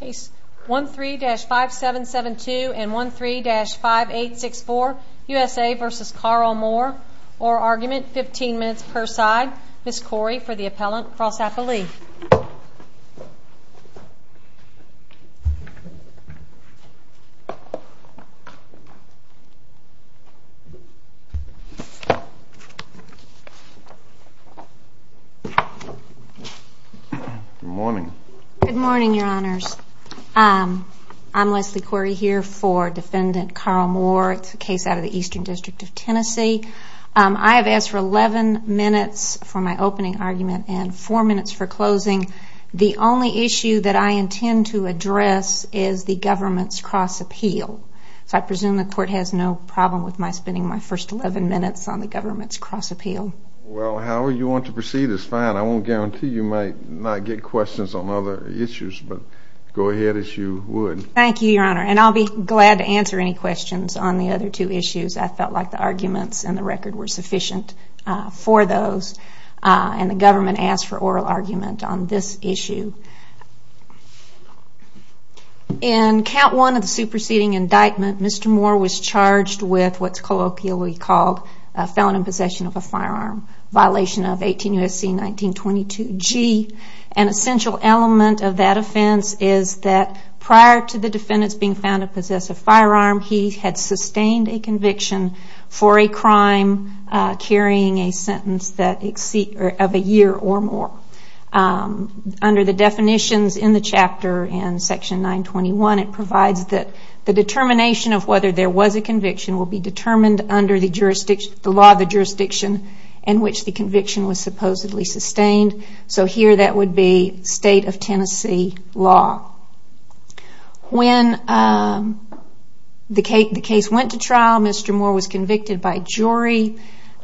Case 13-5772 and 13-5864 U.S.A. v. Carl Moore Org. 15 minutes per side Ms. Corey for the appellant, cross-appellee Good morning, your honors. I'm Leslie Corey here for defendant Carl Moore. It's a case out of the Eastern District of Tennessee. I have asked for 11 minutes for my opening argument and 4 minutes for closing. The only issue that I intend to address is the government's cross-appeal. So I presume the court has no problem with my spending my first 11 minutes on the government's cross-appeal. Well, however you want to proceed is fine. I won't guarantee you might not get questions on other issues, but go ahead as you would. Thank you, your honor. And I'll be glad to answer any questions on the other two issues. I felt like the arguments in the record were sufficient for those. And the government asked for oral argument on this issue. In count one of the superseding indictment, Mr. Moore was charged with what's colloquially called a felon in possession of a firearm, violation of 18 U.S.C. 1922 G. An essential element of that offense is that prior to the defendant's being found to possess a firearm, he had sustained a conviction for a crime carrying a sentence of a year or more. Under the definitions in the chapter in section 921, it provides that the determination of whether there was a conviction will be determined under the law of the jurisdiction in which the conviction was supposedly sustained. So here that would be state of Tennessee law. When the case went to trial, Mr. Moore was convicted by jury.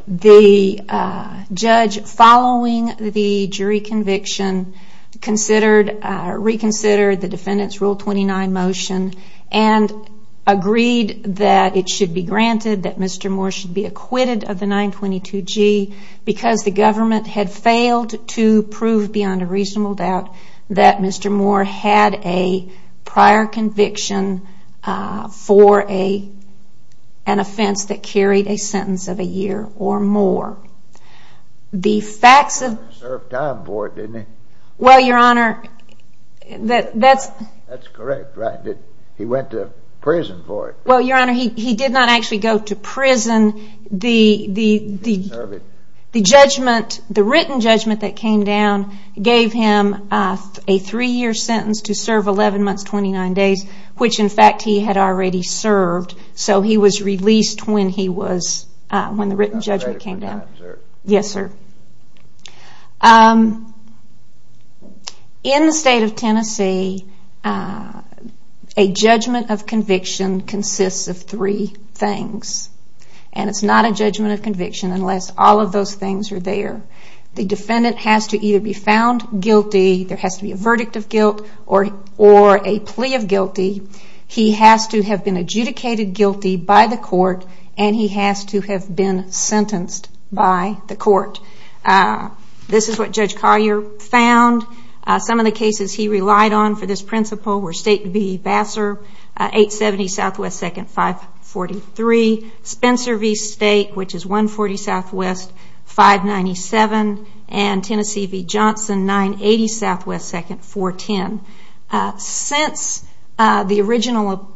The judge, following the jury conviction, reconsidered the defendant's Rule 29 motion and agreed that it should be granted that Mr. Moore should be acquitted of the 1922 G because the government had failed to prove beyond a reasonable doubt that Mr. Moore had a prior conviction for an offense that carried a sentence of a year or more. He didn't serve time for it, did he? That's correct. He went to prison for it. Your Honor, he did not actually go to prison. The written judgment that came down gave him a three year sentence to serve 11 months 29 days, which in fact he had already served. So he was released when the written judgment came down. In the state of Tennessee, a judgment of conviction consists of three things. And it's not a judgment of conviction unless all of those things are there. The defendant has to either be found guilty, there has to be a verdict of guilt, or a plea of guilty. He has to have been adjudicated guilty by the court and he has to have been sentenced by the court. This is what Judge Collier found. Some of the cases he relied on for this principle were State v. Vassar, 870 SW 2nd 543. Spencer v. State, which is 140 SW 597. And Tennessee v. Johnson, 980 SW 2nd 410. Since the original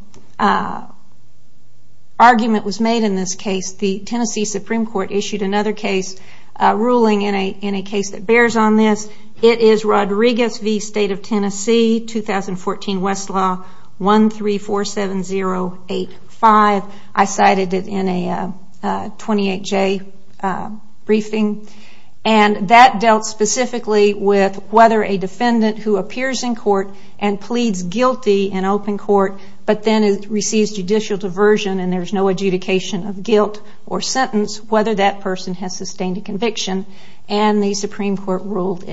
argument was made in this case, the Tennessee Supreme Court issued another ruling in a case that bears on this. It is Rodriguez v. State of Tennessee, 2014 Westlaw 1347085. I cited it in a 28-J briefing. And that dealt specifically with whether a defendant who appears in court and pleads guilty in open court but then receives judicial diversion and there is no adjudication of guilt or sentence, whether that person has sustained a conviction. And the Supreme Court ruled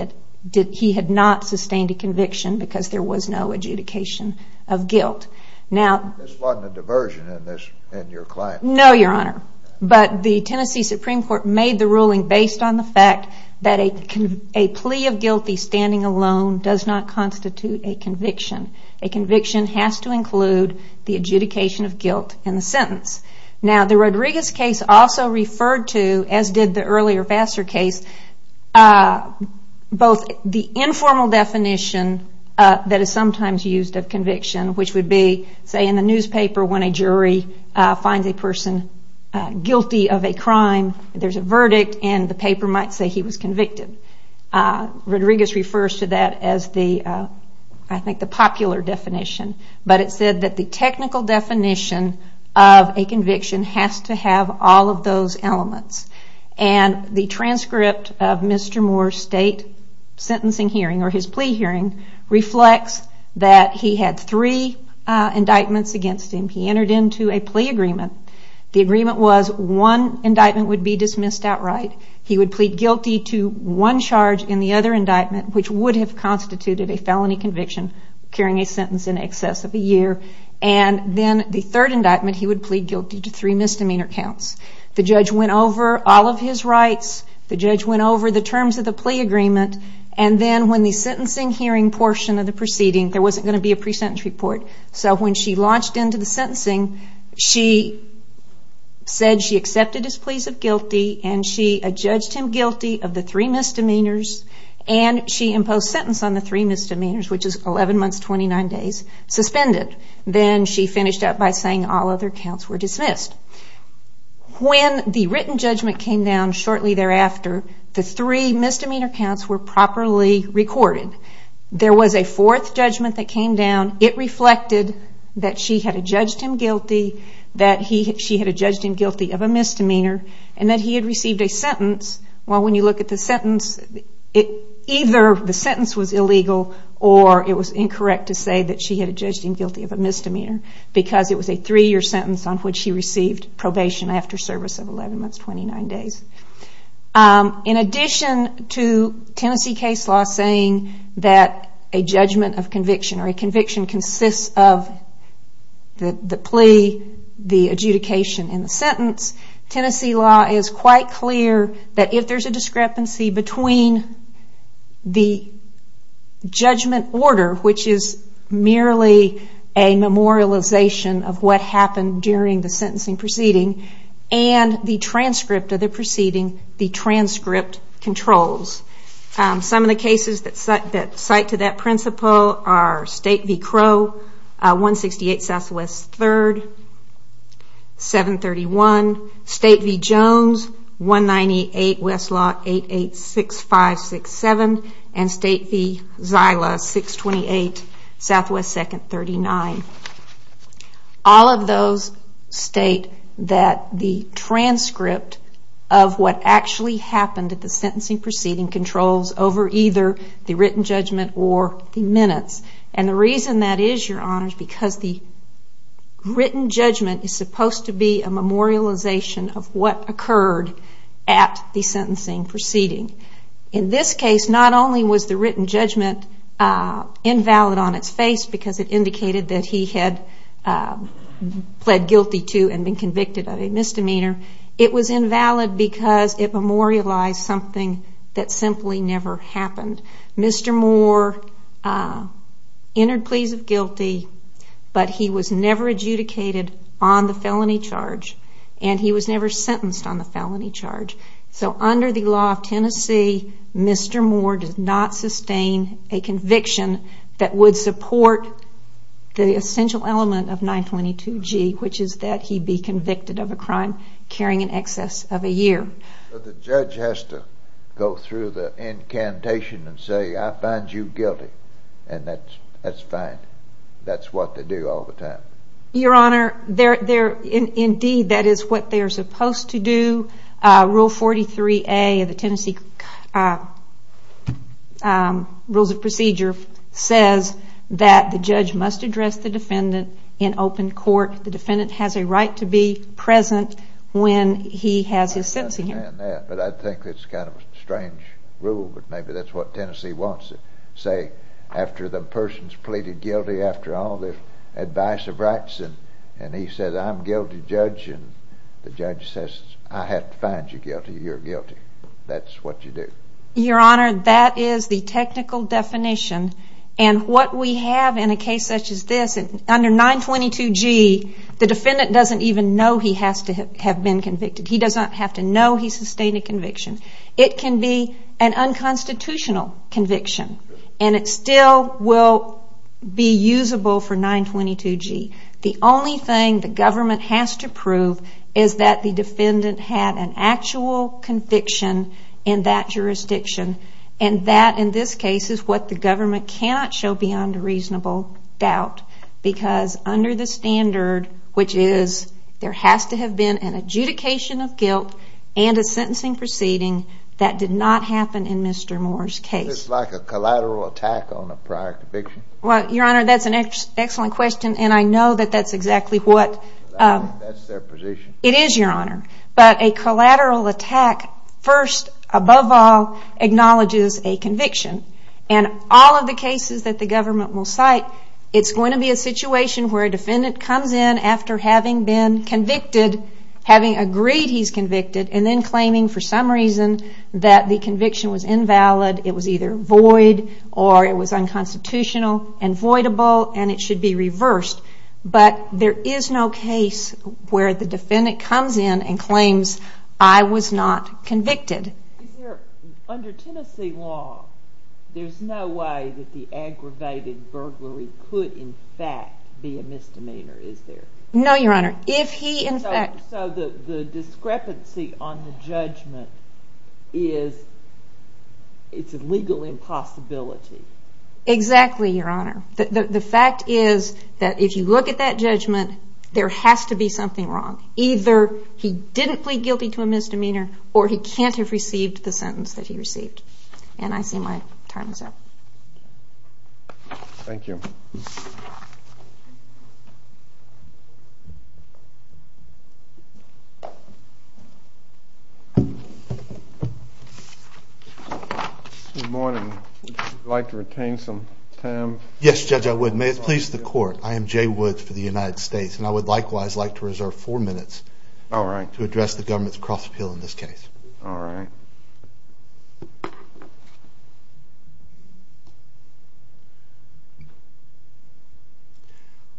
that he had not sustained a conviction because there was no adjudication of guilt. This wasn't a diversion in your claim? No, Your Honor, but the Tennessee Supreme Court made the ruling based on the fact that a plea of guilty standing alone does not constitute a conviction. A conviction has to include the adjudication of guilt and the sentence. Now, the Rodriguez case also referred to, as did the earlier Vassar case, both the informal definition that is sometimes used of conviction, which would be, say, in the newspaper when a jury finds a person guilty of a crime, there is a verdict and the paper might say he was convicted. Rodriguez refers to that as, I think, the popular definition. But it said that the technical definition of a conviction has to have all of those elements. And the transcript of Mr. Moore's state sentencing hearing or his plea hearing reflects that he had three indictments against him. He entered into a plea agreement. The agreement was one indictment would be dismissed outright. He would plead guilty to one charge in the other indictment, which would have constituted a felony conviction, carrying a sentence in excess of a year. And then the third indictment, he would plead guilty to three misdemeanor counts. The judge went over all of his rights. The judge went over the terms of the plea agreement. And then when the sentencing hearing portion of the proceeding, there wasn't going to be a pre-sentence report. So when she launched into the sentencing, she said she accepted his pleas of guilty and she judged him guilty of the three misdemeanors and she imposed sentence on the three misdemeanors, which is 11 months, 29 days, suspended. Then she finished up by saying all other counts were dismissed. When the written judgment came down shortly thereafter, the three misdemeanor counts were properly recorded. There was a fourth judgment that came down. It reflected that she had judged him guilty of a misdemeanor and that he had received a sentence. Well, when you look at the sentence, either the sentence was illegal or it was incorrect to say that she had judged him guilty of a misdemeanor because it was a three-year sentence on which she received probation after service of 11 months, 29 days. In addition to Tennessee case law saying that a judgment of conviction or a conviction consists of the plea, the adjudication, and the sentence, Tennessee law is quite clear that if there's a discrepancy between the judgment order, which is merely a memorialization of what happened during the sentencing proceeding, and the transcript of the proceeding, the transcript controls. Some of the cases that cite to that principle are State v. Crow, 168 Southwest 3rd, 731, State v. Jones, 198 Westlaw, 886567, and State v. Zyla, 628 Southwest 2nd, 39. All of those state that the transcript of what actually happened at the sentencing proceeding controls over either the written judgment or the minutes. And the reason that is, Your Honors, because the written judgment is supposed to be a memorialization of what occurred at the sentencing proceeding. In this case, not only was the written judgment invalid on its face because it indicated that he had pled guilty to and been convicted of a misdemeanor, it was invalid because it memorialized something that simply never happened. Mr. Moore entered pleas of guilty, but he was never adjudicated on the felony charge, and he was never sentenced on the felony charge. So under the law of Tennessee, Mr. Moore did not sustain a conviction that would support the essential element of 922G, which is that he be convicted of a crime carrying in excess of a year. So the judge has to go through the incantation and say, I find you guilty, and that's fine. That's what they do all the time. Your Honor, indeed, that is what they are supposed to do. Rule 43A of the Tennessee Rules of Procedure says that the judge must address the defendant in open court. The defendant has a right to be present when he has his sentencing hearing. I understand that, but I think it's kind of a strange rule, but maybe that's what Tennessee wants to say after the person's pleaded guilty, after all the advice of rights, and he says, I'm guilty, Judge, and the judge says, I have to find you guilty, you're guilty. That's what you do. Your Honor, that is the technical definition, and what we have in a case such as this, under 922G, the defendant doesn't even know he has to have been convicted. He doesn't have to know he sustained a conviction. It can be an unconstitutional conviction, and it still will be usable for 922G. The only thing the government has to prove is that the defendant had an actual conviction in that jurisdiction, and that, in this case, is what the government cannot show beyond a reasonable doubt, because under the standard, which is there has to have been an adjudication of guilt and a sentencing proceeding, that did not happen in Mr. Moore's case. It's like a collateral attack on a prior conviction. Well, Your Honor, that's an excellent question, and I know that that's exactly what... That's their position. It is, Your Honor. But a collateral attack first, above all, acknowledges a conviction, and all of the cases that the government will cite, it's going to be a situation where a defendant comes in after having been convicted, having agreed he's convicted, and then claiming for some reason that the conviction was invalid, it was either void, or it was unconstitutional and voidable, and it should be reversed. But there is no case where the defendant comes in and claims, I was not convicted. Under Tennessee law, there's no way that the aggravated burglary could, in fact, be a misdemeanor, is there? No, Your Honor. If he, in fact... So the discrepancy on the judgment is, it's a legal impossibility. Exactly, Your Honor. The fact is that if you look at that judgment, there has to be something wrong. Either he didn't plead guilty to a misdemeanor, or he can't have received the sentence that he received. And I see my time is up. Thank you. Good morning. Would you like to retain some time? Yes, Judge, I would. May it please the Court, I am Jay Woods for the United States, and I would likewise like to reserve four minutes to address the government's cross-appeal in this case. All right.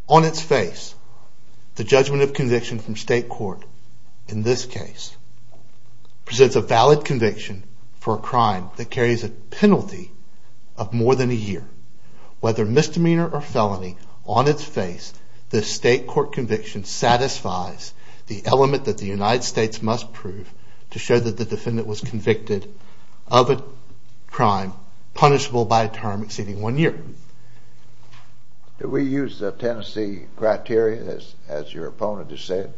On its face, the judgment of conviction from state court in this case presents a valid conviction for a crime that carries a penalty of more than a year. Whether misdemeanor or felony, on its face, the state court conviction satisfies the element that the United States must prove to show that the defendant was convicted of a crime punishable by a term exceeding one year. Did we use Tennessee criteria, as your opponent has said?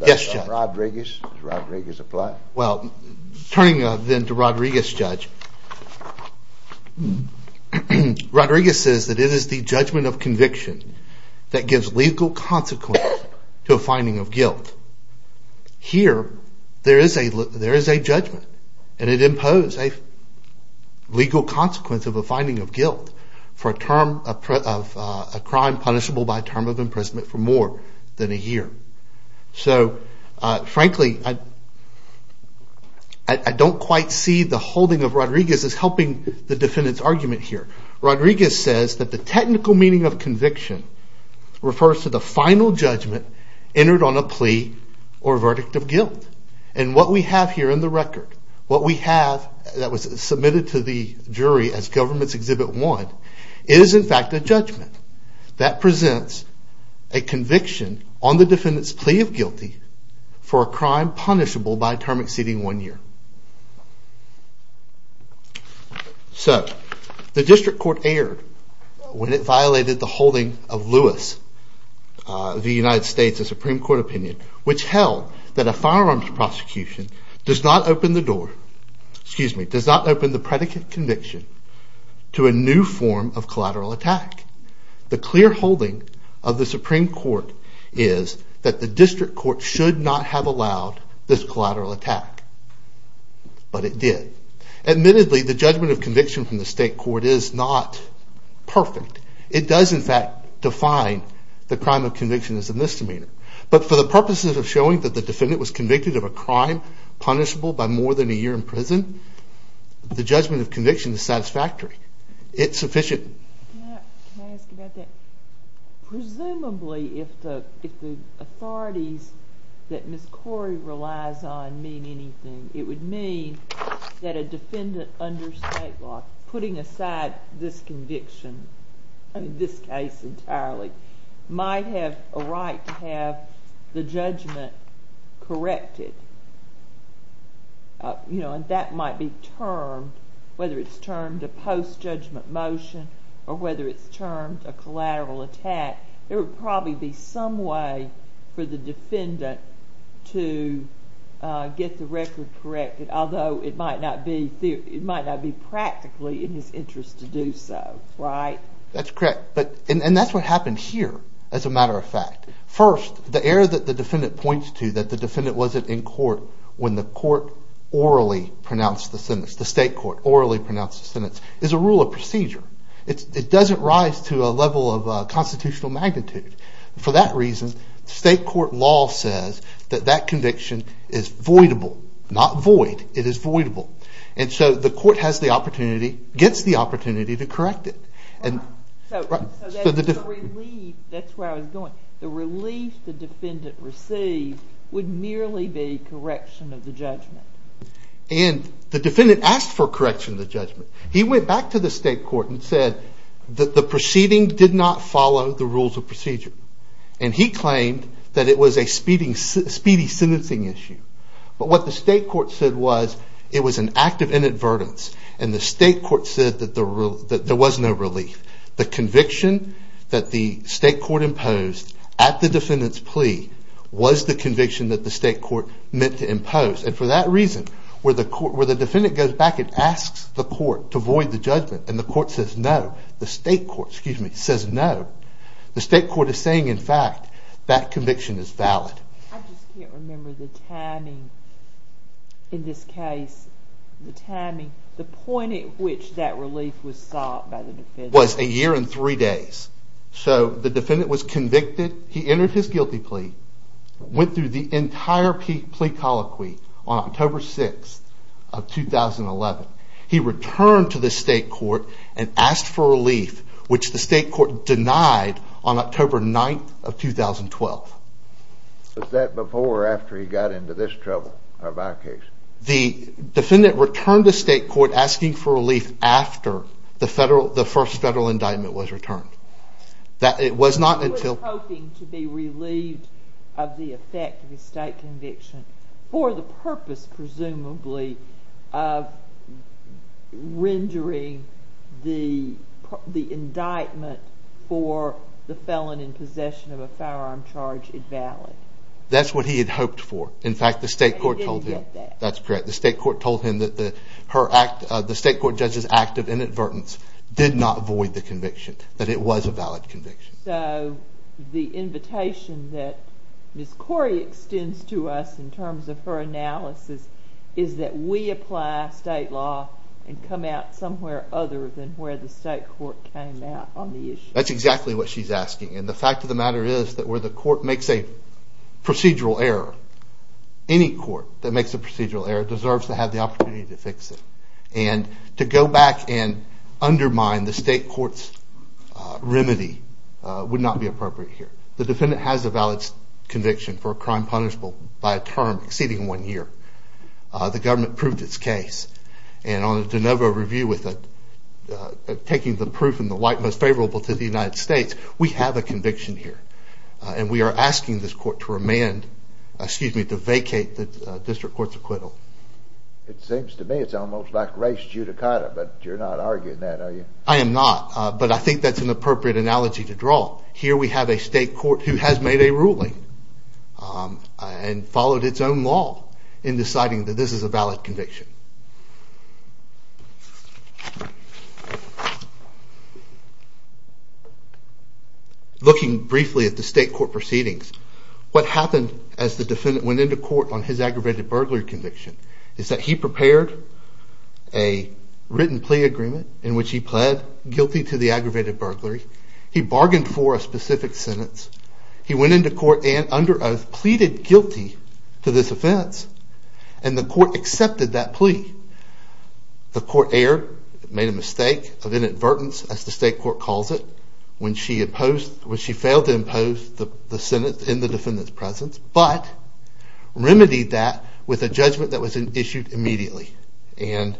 Yes, Judge. Rodriguez? Does Rodriguez apply? Well, turning then to Rodriguez, Judge, Rodriguez says that it is the judgment of conviction that gives legal consequence to a finding of guilt. Here, there is a judgment, and it imposes a legal consequence of a finding of guilt for a crime punishable by a term of imprisonment for more than a year. So, frankly, I don't quite see the holding of Rodriguez as helping the defendant's argument here. Rodriguez says that the technical meaning of conviction refers to the final judgment entered on a plea or verdict of guilt. And what we have here in the record, what we have that was submitted to the jury as government's Exhibit 1, is in fact a judgment. That presents a conviction on the defendant's plea of guilty for a crime punishable by a term exceeding one year. So, the District Court erred when it violated the holding of Lewis v. United States, a Supreme Court opinion, which held that a firearms prosecution does not open the door, excuse me, does not open the predicate conviction to a new form of collateral attack. The clear holding of the Supreme Court is that the District Court should not have allowed this collateral attack. But it did. Admittedly, the judgment of conviction from the State Court is not perfect. It does, in fact, define the crime of conviction as a misdemeanor. But for the purposes of showing that the defendant was convicted of a crime punishable by more than a year in prison, the judgment of conviction is satisfactory. It's sufficient. Can I ask about that? Presumably, if the authorities that Ms. Corey relies on mean anything, it would mean that a defendant under state law, putting aside this conviction, in this case entirely, might have a right to have the judgment corrected. And that might be termed, whether it's termed a post-judgment motion or whether it's termed a collateral attack, there would probably be some way for the defendant to get the record corrected, although it might not be practically in his interest to do so, right? That's correct. And that's what happened here, as a matter of fact. First, the error that the defendant points to, that the defendant wasn't in court when the court orally pronounced the sentence, the State Court orally pronounced the sentence, is a rule of procedure. It doesn't rise to a level of constitutional magnitude. For that reason, State Court law says that that conviction is voidable. Not void. It is voidable. And so the court has the opportunity, gets the opportunity, to correct it. So the relief, that's where I was going, the relief the defendant received would merely be correction of the judgment. And the defendant asked for correction of the judgment. He went back to the State Court and said that the proceeding did not follow the rules of procedure. And he claimed that it was a speedy sentencing issue. But what the State Court said was, it was an act of inadvertence. And the State Court said that there was no relief. The conviction that the State Court imposed at the defendant's plea was the conviction that the State Court meant to impose. And for that reason, where the defendant goes back and asks the court to void the judgment, and the court says no, the State Court, excuse me, says no, the State Court is saying, in fact, that conviction is valid. I just can't remember the timing in this case, the timing, the point at which that relief was sought by the defendant. It was a year and three days. So the defendant was convicted. He entered his guilty plea. Went through the entire plea colloquy on October 6th of 2011. He returned to the State Court and asked for relief, which the State Court denied on October 9th of 2012. Was that before or after he got into this trouble of our case? The defendant returned to State Court asking for relief after the first federal indictment was returned. He was hoping to be relieved of the effect of his state conviction for the purpose, presumably, of rendering the indictment for the felon in possession of a firearm charge invalid. That's what he had hoped for. In fact, the State Court told him. And he didn't get that. That's correct. The State Court told him that the State Court judge's act of inadvertence did not void the conviction. That it was a valid conviction. So the invitation that Ms. Corey extends to us in terms of her analysis is that we apply state law and come out somewhere other than where the State Court came out on the issue. That's exactly what she's asking. And the fact of the matter is that where the court makes a procedural error, any court that makes a procedural error deserves to have the opportunity to fix it. And to go back and undermine the State Court's remedy would not be appropriate here. The defendant has a valid conviction for a crime punishable by a term exceeding one year. The government proved its case. And on the DeNovo review, taking the proof in the light most favorable to the United States, we have a conviction here. And we are asking this court to vacate the District Court's acquittal. It seems to me it's almost like race judicata, but you're not arguing that, are you? I am not, but I think that's an appropriate analogy to draw. Here we have a State Court who has made a ruling and followed its own law in deciding that this is a valid conviction. Looking briefly at the State Court proceedings, what happened as the defendant went into court on his aggravated burglary conviction is that he prepared a written plea agreement in which he pled guilty to the aggravated burglary. He bargained for a specific sentence. He went into court and under oath pleaded guilty to this offense. And the court accepted that plea. The court erred, made a mistake of inadvertence, as the State Court calls it, when she failed to impose the sentence in the defendant's presence, but remedied that with a judgment that was issued immediately. And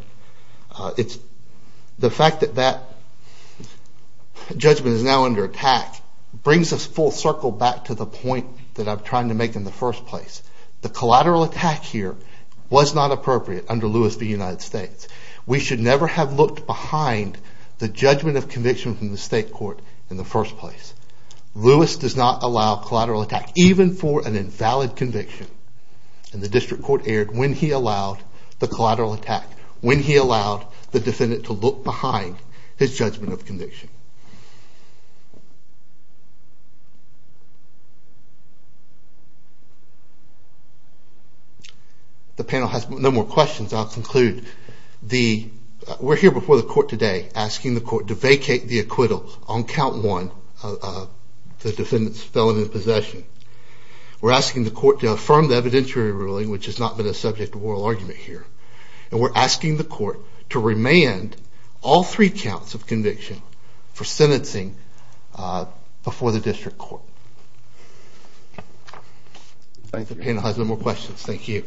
the fact that that judgment is now under attack brings us full circle back to the point that I'm trying to make in the first place. The collateral attack here was not appropriate under Lewis v. United States. We should never have looked behind the judgment of conviction from the State Court in the first place. Lewis does not allow collateral attack, even for an invalid conviction. And the District Court erred when he allowed the collateral attack, when he allowed the defendant to look behind his judgment of conviction. The panel has no more questions. I'll conclude. We're here before the court today asking the court to vacate the acquittal on count one of the defendant's felony possession. We're asking the court to affirm the evidentiary ruling, which has not been a subject of oral argument here. And we're asking the court to remand all three counts of conviction for sentencing before the District Court. The panel has no more questions. Thank you.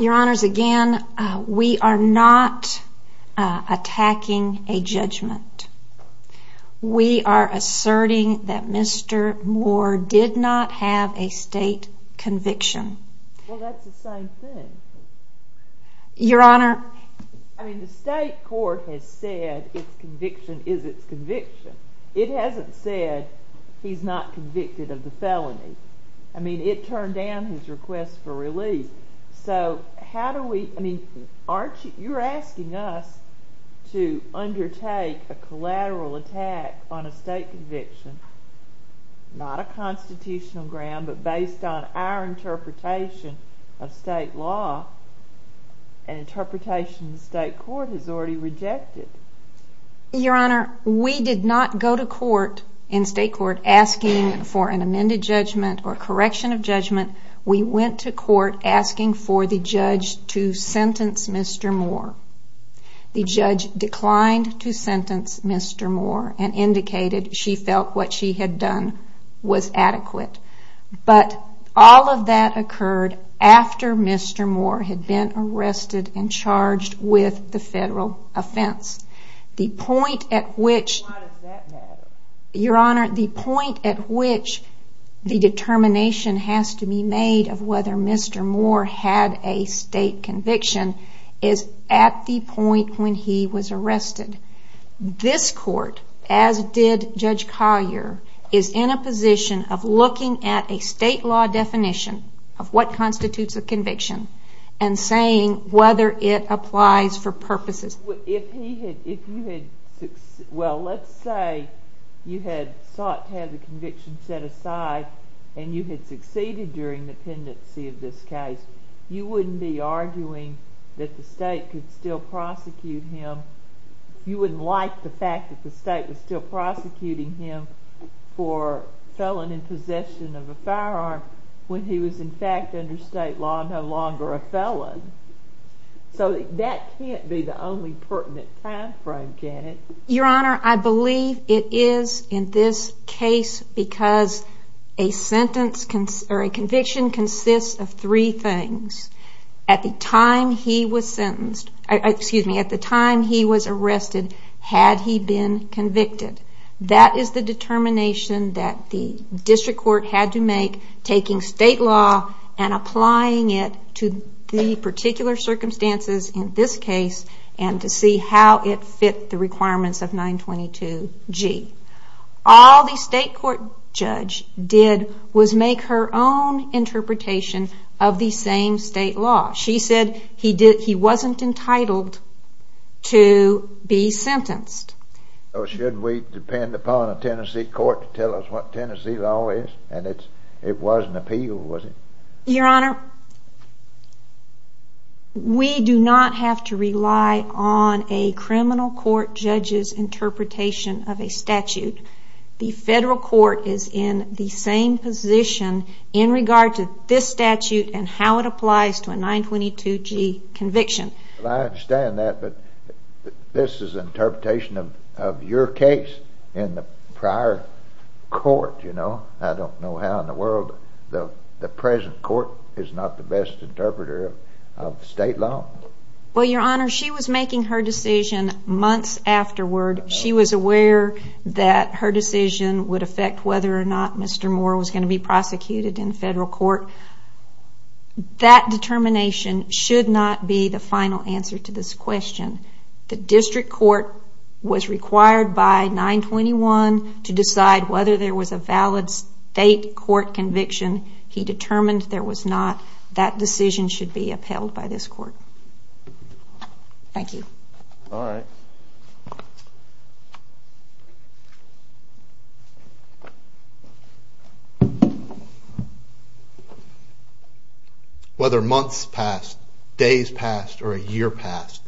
Your Honors, again, we are not attacking a judgment. We are asserting that Mr. Moore did not have a state conviction. Well, that's the same thing. Your Honor. I mean, the State Court has said its conviction is its conviction. It hasn't said he's not convicted of the felony. I mean, it turned down his request for release. So, how do we, I mean, aren't you, you're asking us to undertake a collateral attack on a state conviction, not a constitutional ground, but based on our interpretation of state law, an interpretation the State Court has already rejected? Your Honor, we did not go to court in State Court asking for an amended judgment or correction of judgment. We went to court asking for the judge to sentence Mr. Moore. The judge declined to sentence Mr. Moore and indicated she felt what she had done was adequate. But all of that occurred after Mr. Moore had been arrested and charged with the federal offense. The point at which, Your Honor, the point at which the determination has to be made of whether Mr. Moore had a state conviction is at the point when he was arrested. This court, as did Judge Collier, is in a position of looking at a state law definition of what constitutes a conviction and saying whether it applies for purposes. If he had, if you had, well, let's say you had sought to have the conviction set aside and you had succeeded during the pendency of this case, you wouldn't be arguing that the state could still prosecute him. You wouldn't like the fact that the state was still prosecuting him for felon in possession of a firearm when he was in fact under state law no longer a felon. So that can't be the only pertinent time frame, can it? Your Honor, I believe it is in this case because a conviction consists of three things. At the time he was sentenced, excuse me, at the time he was arrested had he been convicted. That is the determination that the district court had to make taking state law and applying it to the particular circumstances in this case and to see how it fit the requirements of 922G. All the state court judge did was make her own interpretation of the same state law. She said he wasn't entitled to be sentenced. So should we depend upon a Tennessee court to tell us what Tennessee law is? And it was an appeal, was it? Your Honor, we do not have to rely on a criminal court judge's interpretation of a statute. The federal court is in the same position in regard to this statute and how it applies to a 922G conviction. I understand that, but this is an interpretation of your case in the prior court, you know. I don't know how in the world the present court is not the best interpreter of state law. Well, Your Honor, she was making her decision months afterward. She was aware that her decision would affect whether or not Mr. Moore was going to be prosecuted in federal court. That determination should not be the final answer to this question. The district court was required by 921 to decide whether there was a valid state court conviction. He determined there was not. That decision should be upheld by this court. Thank you. All right. Whether months passed, days passed, or a year passed,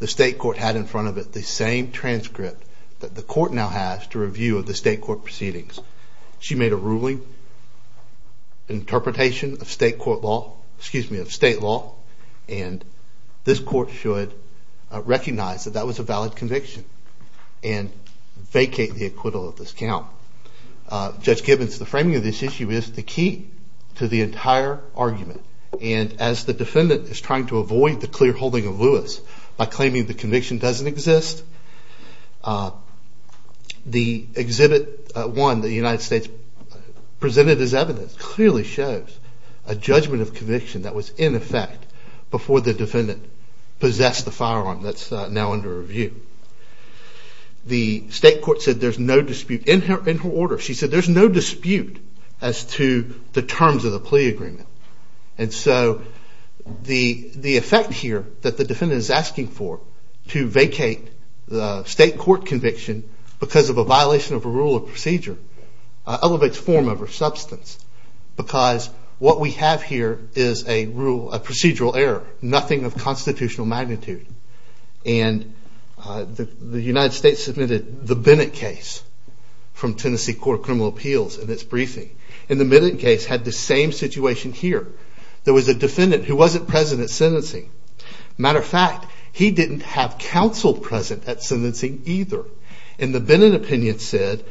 the state court had in front of it the same transcript that the court now has to review of the state court proceedings. She made a ruling, interpretation of state law, and this court should recognize that that was a valid conviction and vacate the acquittal of this count. Judge Gibbons, the framing of this issue is the key to the entire argument, and as the defendant is trying to avoid the clear holding of Lewis by claiming the conviction doesn't exist, the Exhibit 1 that the United States presented as evidence clearly shows a judgment of conviction that was in effect before the defendant possessed the firearm that's now under review. The state court said there's no dispute in her order. She said there's no dispute as to the terms of the plea agreement, and so the effect here that the defendant is asking for to vacate the state court conviction because of a violation of a rule of procedure elevates form over substance because what we have here is a procedural error, nothing of constitutional magnitude, and the United States submitted the Bennett case from Tennessee Court of Criminal Appeals in its briefing, and the Bennett case had the same situation here. There was a defendant who wasn't present at sentencing. Matter of fact, he didn't have counsel present at sentencing either, and the Bennett opinion said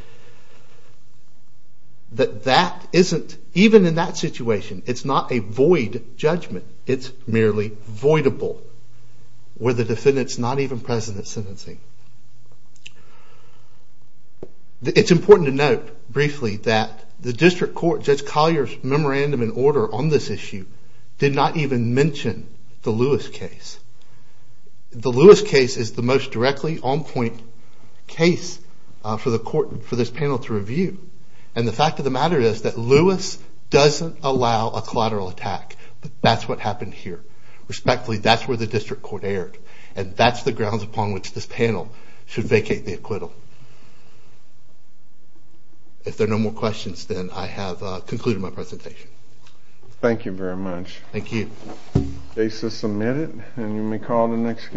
that that isn't, even in that situation, it's not a void judgment. It's merely voidable where the defendant's not even present at sentencing. It's important to note briefly that the district court, Judge Collier's memorandum in order on this issue, did not even mention the Lewis case. The Lewis case is the most directly on point case for this panel to review, and the fact of the matter is that Lewis doesn't allow a collateral attack. That's what happened here. Respectfully, that's where the district court erred, and that's the grounds upon which this panel should vacate the acquittal. If there are no more questions, then I have concluded my presentation. Thank you very much. Thank you. The case is submitted, and you may call the next case.